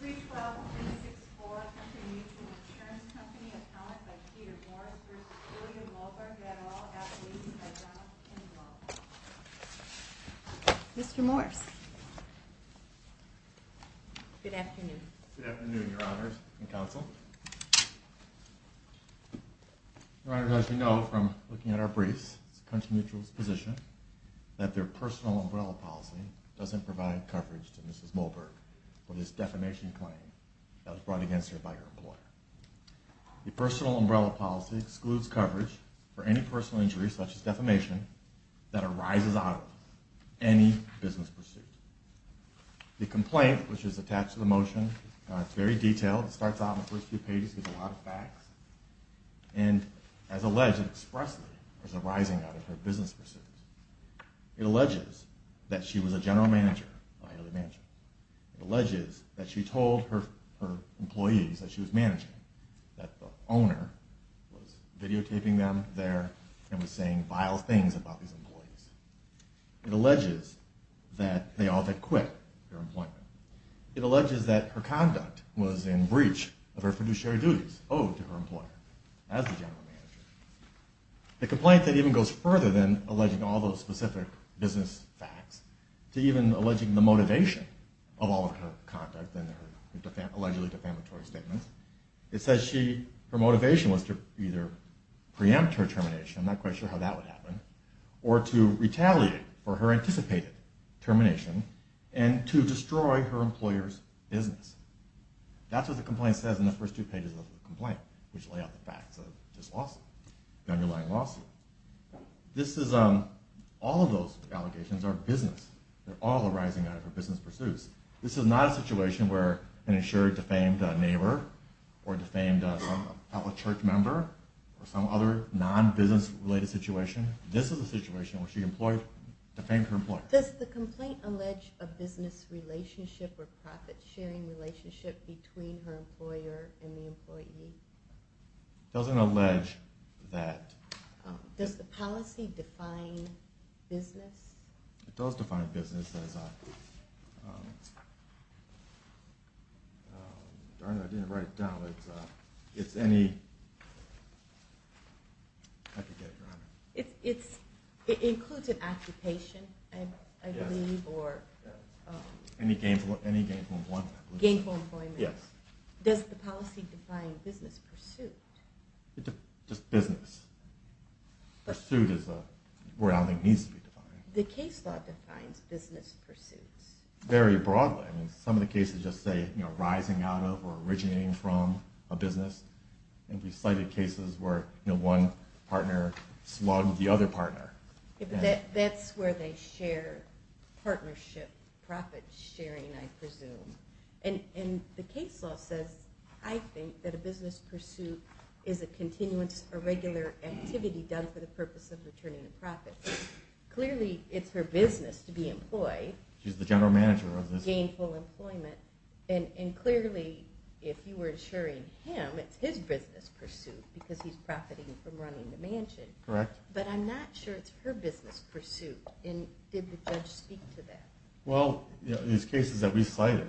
312364 Country Mutual Insurance Company Accounted by Peter Morris v. William Molburg Adderall, Appalachia by John Kimball Mr. Morris Good afternoon Good afternoon, Your Honors and Counsel Your Honor, as you know from looking at our briefs it's the Country Mutual's position that their personal umbrella policy doesn't provide coverage to Mrs. Molburg for this defamation claim that was brought against her by her employer The personal umbrella policy excludes coverage for any personal injury such as defamation that arises out of any business pursuit The complaint, which is attached to the motion it's very detailed, it starts out in the first few pages with a lot of facts and as alleged expressly is arising out of her business pursuits It alleges that she was a general manager of Haley Mansion It alleges that she told her employees that she was managing that the owner was videotaping them there and was saying vile things about these employees It alleges that they all had quit their employment It alleges that her conduct was in breach of her fiduciary duties owed to her employer as the general manager The complaint then even goes further than alleging all those specific business facts to even alleging the motivation of all of her conduct in her allegedly defamatory statements It says her motivation was to either preempt her termination I'm not quite sure how that would happen or to retaliate for her anticipated termination and to destroy her employer's business That's what the complaint says in the first two pages of the complaint which lay out the facts of this lawsuit the underlying lawsuit All of those allegations are business They're all arising out of her business pursuits This is not a situation where an insurer defamed a neighbor or defamed a fellow church member or some other non-business related situation This is a situation where she defamed her employer Does the complaint allege a business relationship or profit-sharing relationship between her employer and the employee? It doesn't allege that Does the policy define business? It does define business I didn't write it down It's any It includes an occupation Any gainful employment Gainful employment Does the policy define business pursuit? Just business Pursuit is where I don't think it needs to be defined The case law defines business pursuits Very broadly Some of the cases just say rising out of or originating from a business And we've cited cases where one partner slugged the other partner That's where they share partnership profit-sharing I presume And the case law says I think that a business pursuit is a continuous or regular activity done for the purpose of returning a profit Clearly, it's her business to be employed She's the general manager Gainful employment And clearly, if you were insuring him it's his business pursuit because he's profiting from running the mansion Correct But I'm not sure it's her business pursuit Did the judge speak to that? Well, these cases that we cited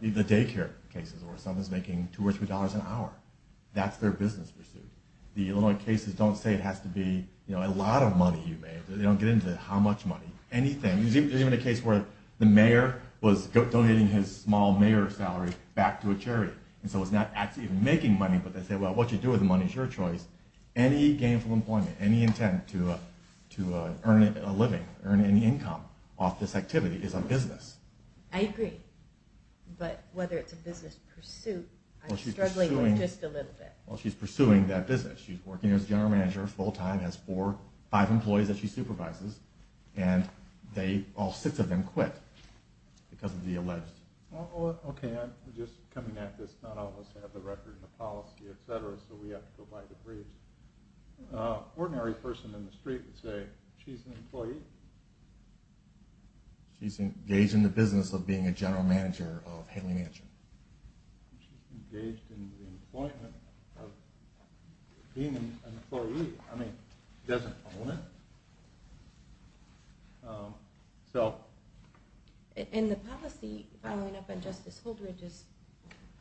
The daycare cases where someone's making $2 or $3 an hour That's their business pursuit The Illinois cases don't say it has to be a lot of money you made They don't get into how much money Anything There's even a case where the mayor was donating his small mayor salary back to a charity And so he's not actually making money But they say, well, what you do with the money is your choice Any gainful employment Any intent to earn a living earn any income off this activity is a business I agree But whether it's a business pursuit I'm struggling with just a little bit Well, she's pursuing that business She's working as a general manager full-time Has four, five employees that she supervises And all six of them quit because of the alleged Okay, I'm just coming at this Not all of us have the record and the policy, etc. So we have to go by the briefs An ordinary person in the street would say She's an employee She's engaged in the business of being a general manager of Haley Mansion She's engaged in the employment of being an employee I mean, she doesn't own it And the policy, following up on Justice Holdridge's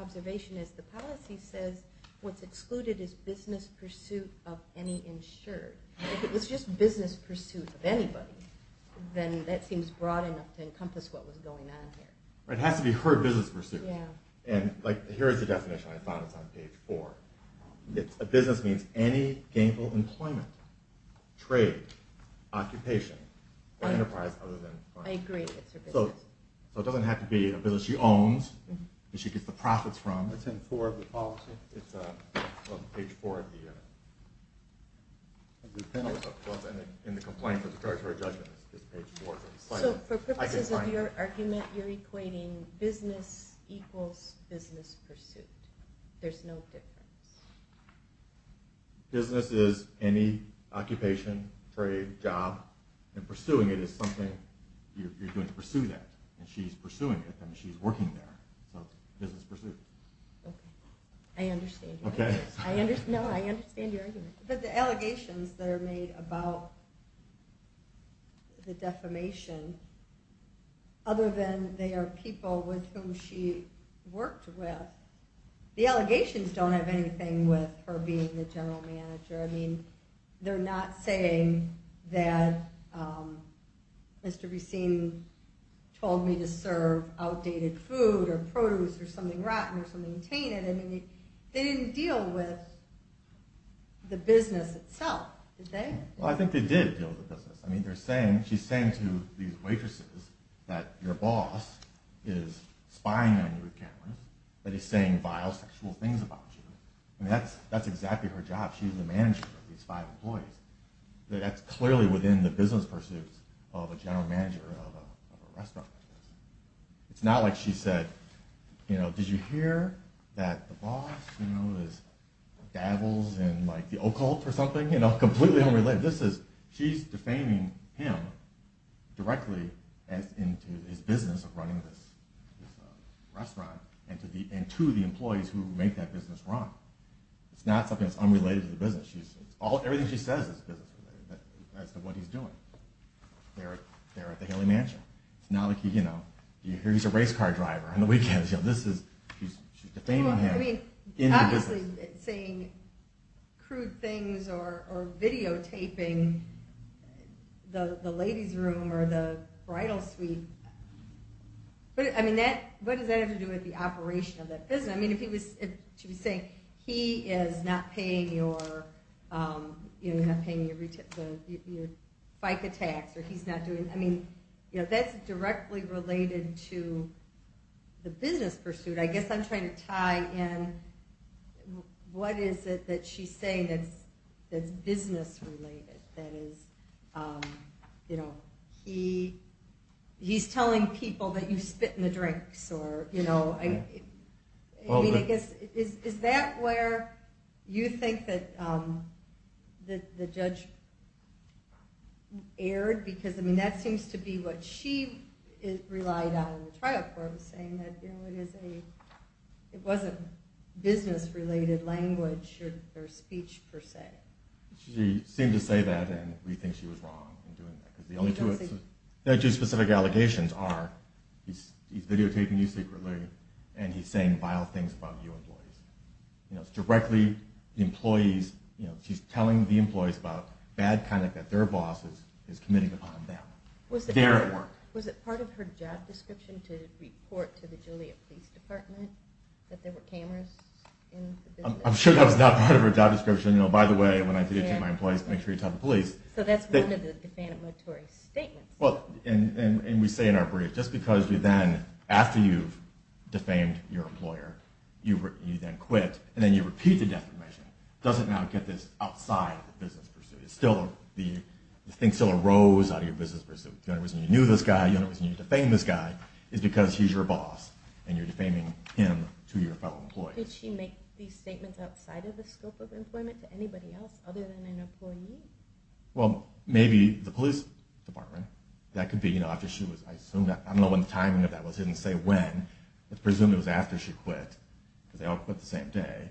observation is the policy says what's excluded is business pursuit of any insured If it was just business pursuit of anybody then that seems broad enough to encompass what was going on here It has to be her business pursuit And here's the definition I found It's on page four A business means any gainful employment trade, occupation, or enterprise other than farm I agree, it's her business So it doesn't have to be a business she owns that she gets the profits from It's in four of the policy It's on page four of the In the complaint, the preparatory judgment it's page four So for purposes of your argument you're equating business equals business pursuit There's no difference Business is any occupation, trade, job and pursuing it is something you're going to pursue that And she's pursuing it I mean, she's working there So it's business pursuit I understand your argument No, I understand your argument But the allegations that are made about the defamation other than they are people with whom she worked with The allegations don't have anything with her being the general manager I mean, they're not saying that Mr. Beeseen told me to serve outdated food or produce or something rotten or something tainted They didn't deal with the business itself Did they? Well, I think they did deal with the business I mean, she's saying to these waitresses that your boss is spying on you with cameras that he's saying vile, sexual things about you That's exactly her job She's the manager of these five employees That's clearly within the business pursuits of a general manager of a restaurant It's not like she said Did you hear that the boss dabbles in the occult or something? Completely unrelated She's defaming him directly into his business of running this restaurant and to the employees who make that business run It's not something that's unrelated to the business Everything she says is business related as to what he's doing there at the Haley Mansion You hear he's a race car driver on the weekends She's defaming him Obviously, saying crude things or videotaping the ladies' room or the bridal suite What does that have to do with the operation of that business? She was saying he is not paying your FICA tax That's directly related to the business pursuit I guess I'm trying to tie in What is it that she's saying that's business related? That is, he's telling people that you spit in the drinks Is that where you think that the judge erred? That seems to be what she relied on in the trial court saying that it wasn't business related language or speech per se She seemed to say that and we think she was wrong in doing that The only two specific allegations are he's videotaping you secretly and he's saying vile things about your employees She's telling the employees about bad conduct that their boss is committing upon them Was it part of her job description to report to the Joliet Police Department that there were cameras in the business? I'm sure that was not part of her job description By the way, when I videotape my employees make sure you tell the police So that's one of the defamatory statements We say in our brief just because you then after you've defamed your employer you then quit and then you repeat the defamation doesn't now get this outside the business pursuit The thing still arose out of your business pursuit The only reason you knew this guy the only reason you defamed this guy is because he's your boss and you're defaming him to your fellow employee Did she make these statements outside of the scope of employment to anybody else other than an employee? Well, maybe the police department That could be I don't know when the timing of that was I didn't say when Presumably it was after she quit because they all quit the same day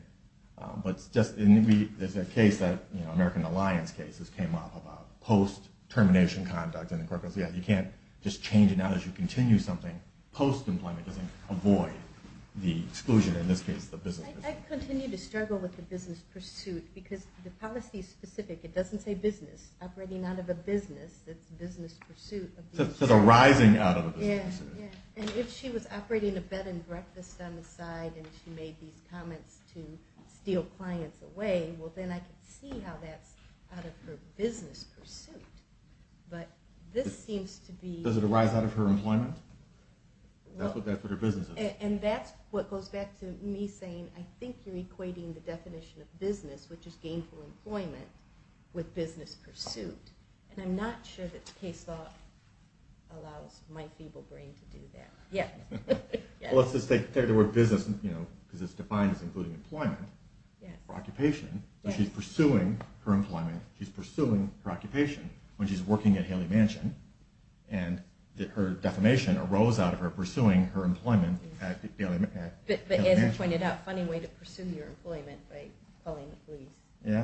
There's a case American Alliance cases came up about post-termination conduct and the court goes you can't just change it now as you continue something Post-employment doesn't avoid the exclusion in this case the business I continue to struggle with the business pursuit it doesn't say business operating out of a business that's business pursuit So the rising out of a business pursuit And if she was operating a bed and breakfast on the side and she made these comments to steal clients away well then I can see how that's out of her business pursuit but this seems to be Does it arise out of her employment? That's what her business is And that's what goes back to me saying I think you're equating the definition of business which is gainful employment with business pursuit and I'm not sure that the case law allows my feeble brain to do that Let's just take the word business because it's defined as including employment for occupation She's pursuing her employment She's pursuing her occupation when she's working at Haley Mansion and her defamation arose out of her pursuing her employment at Haley Mansion But as you pointed out funny way to pursue your employment by calling the police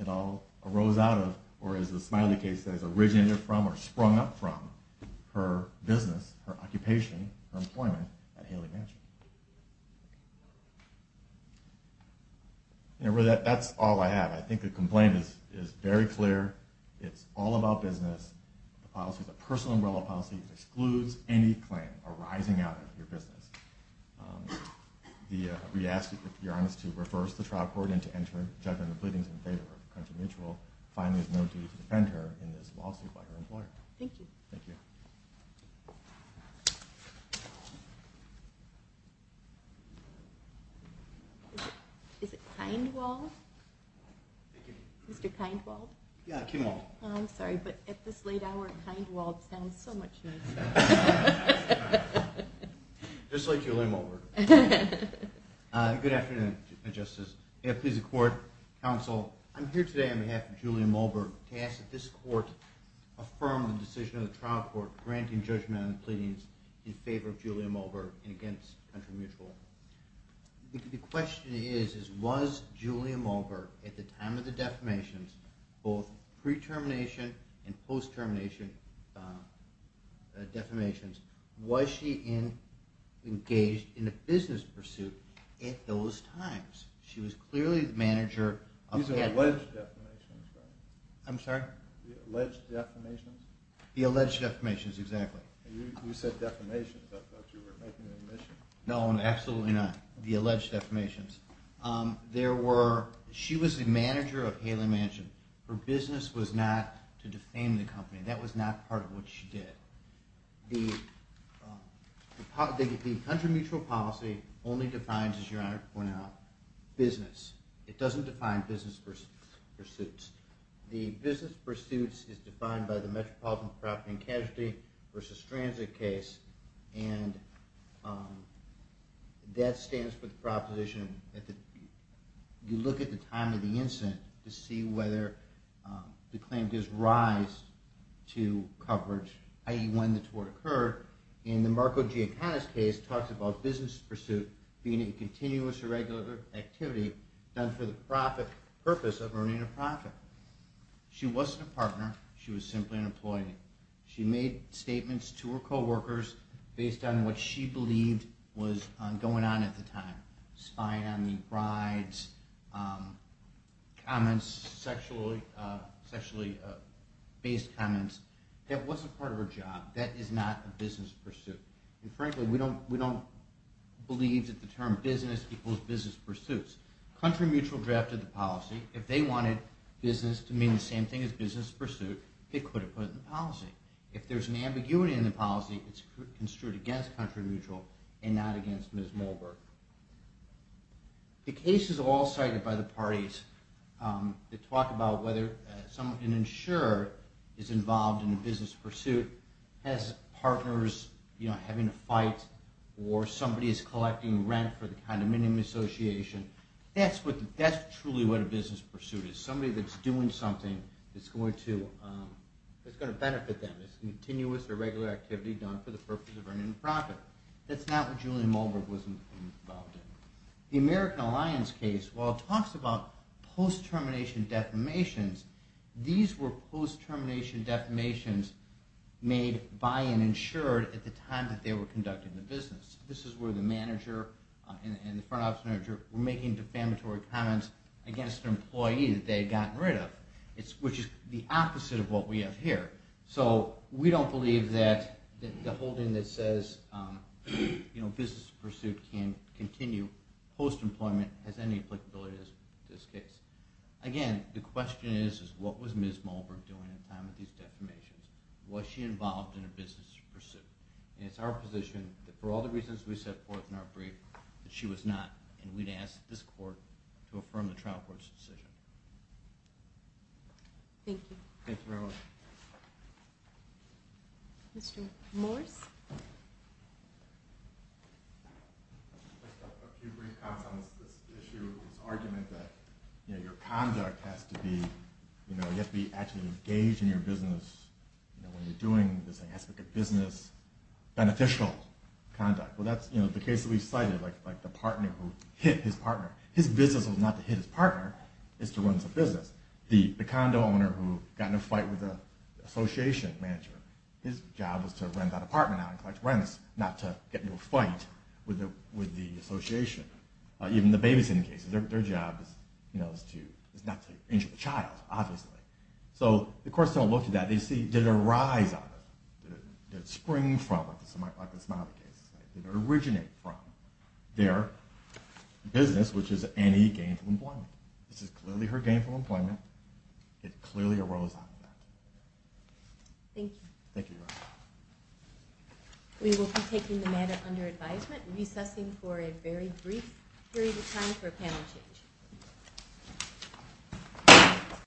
It all arose out of or as the Smiley case says originated from or sprung up from her business, her occupation her employment at Haley Mansion That's all I have I think the complaint is very clear It's all about business The policy is a personal umbrella policy It excludes any claim arising out of your business We ask if you're honest to refer us to the trial court and to enter judgment of pleadings in favor of the country mutual Finally there's no duty to defend her in this lawsuit by her employer Thank you Is it Kindwald? Thank you Mr. Kindwald? Yeah, Kim Wald I'm sorry, but at this late hour Kindwald sounds so much nicer Just like your limo work Good afternoon, Justice Please record, counsel I'm here today on behalf of Julia Mulberg to ask that this court affirm the decision of the trial court granting judgment on the pleadings in favor of Julia Mulberg and against the country mutual The question is, was Julia Mulberg at the time of the defamation both pre-termination and post-termination defamations was she engaged in a business pursuit at those times She was clearly the manager These are alleged defamations, right? I'm sorry? The alleged defamations The alleged defamations, exactly You said defamations, I thought you were making an admission No, absolutely not The alleged defamations She was the manager of Haley Mansion Her business was not to defame the company That was not part of what she did The country mutual policy only defines, as your honor pointed out business It doesn't define business pursuits The business pursuits is defined by the metropolitan property and casualty versus transit case and that stands for the proposition you look at the time of the incident to see whether the claim gives rise to coverage, i.e. when the tort occurred In the Marco Giancana's case talks about business pursuit being a continuous or regular activity done for the purpose of earning a profit She wasn't a partner, she was simply an employee She made statements to her co-workers based on what she believed was going on at the time spying on the brides comments sexually based comments That wasn't part of her job That is not a business pursuit Frankly, we don't believe that the term business equals business pursuits. Country Mutual drafted the policy. If they wanted business to mean the same thing as business pursuit they could have put it in the policy If there's an ambiguity in the policy it's construed against Country Mutual and not against Ms. Molberg The case is all cited by the parties that talk about whether an insurer is involved in a business pursuit has partners having a fight or somebody is collecting rent for the condominium association That's truly what a business pursuit is Somebody that's doing something that's going to benefit them It's a continuous or regular activity done for the purpose of earning a profit That's not what Julian Molberg was involved in The American Alliance case, while it talks about post-termination defamations these were post-termination defamations made by an insurer at the time that they were conducting the business This is where the manager and the front office manager were making defamatory comments against an employee that they had gotten rid of, which is the opposite of what we have here We don't believe that the holding that says business pursuit can continue post-employment has any applicability to this case Again, the question is what was Ms. Molberg doing at the time of these defamations? Was she involved in a business pursuit? It's our position that for all the reasons we set forth in our brief, that she was not and we'd ask this court to affirm the trial court's decision Thank you Thank you very much Mr. Morris A few brief comments on this issue this argument that your conduct has to be you have to be actually engaged in your business when you're doing this aspect of business beneficial conduct Well that's the case that we've cited like the partner who hit his partner His business was not to hit his partner it's to run his business The condo owner who got in a fight with the association manager his job was to rent that apartment out and collect rents, not to get into a fight with the association even the babysitting case their job is not to injure the child, obviously So the courts don't look at that they see, did it arise out of did it spring from, like the Smiley case did it originate from their business which is anti-gainful employment This is clearly her gainful employment it clearly arose out of that Thank you Thank you We will be taking the matter under advisement recessing for a very brief period of time for a panel change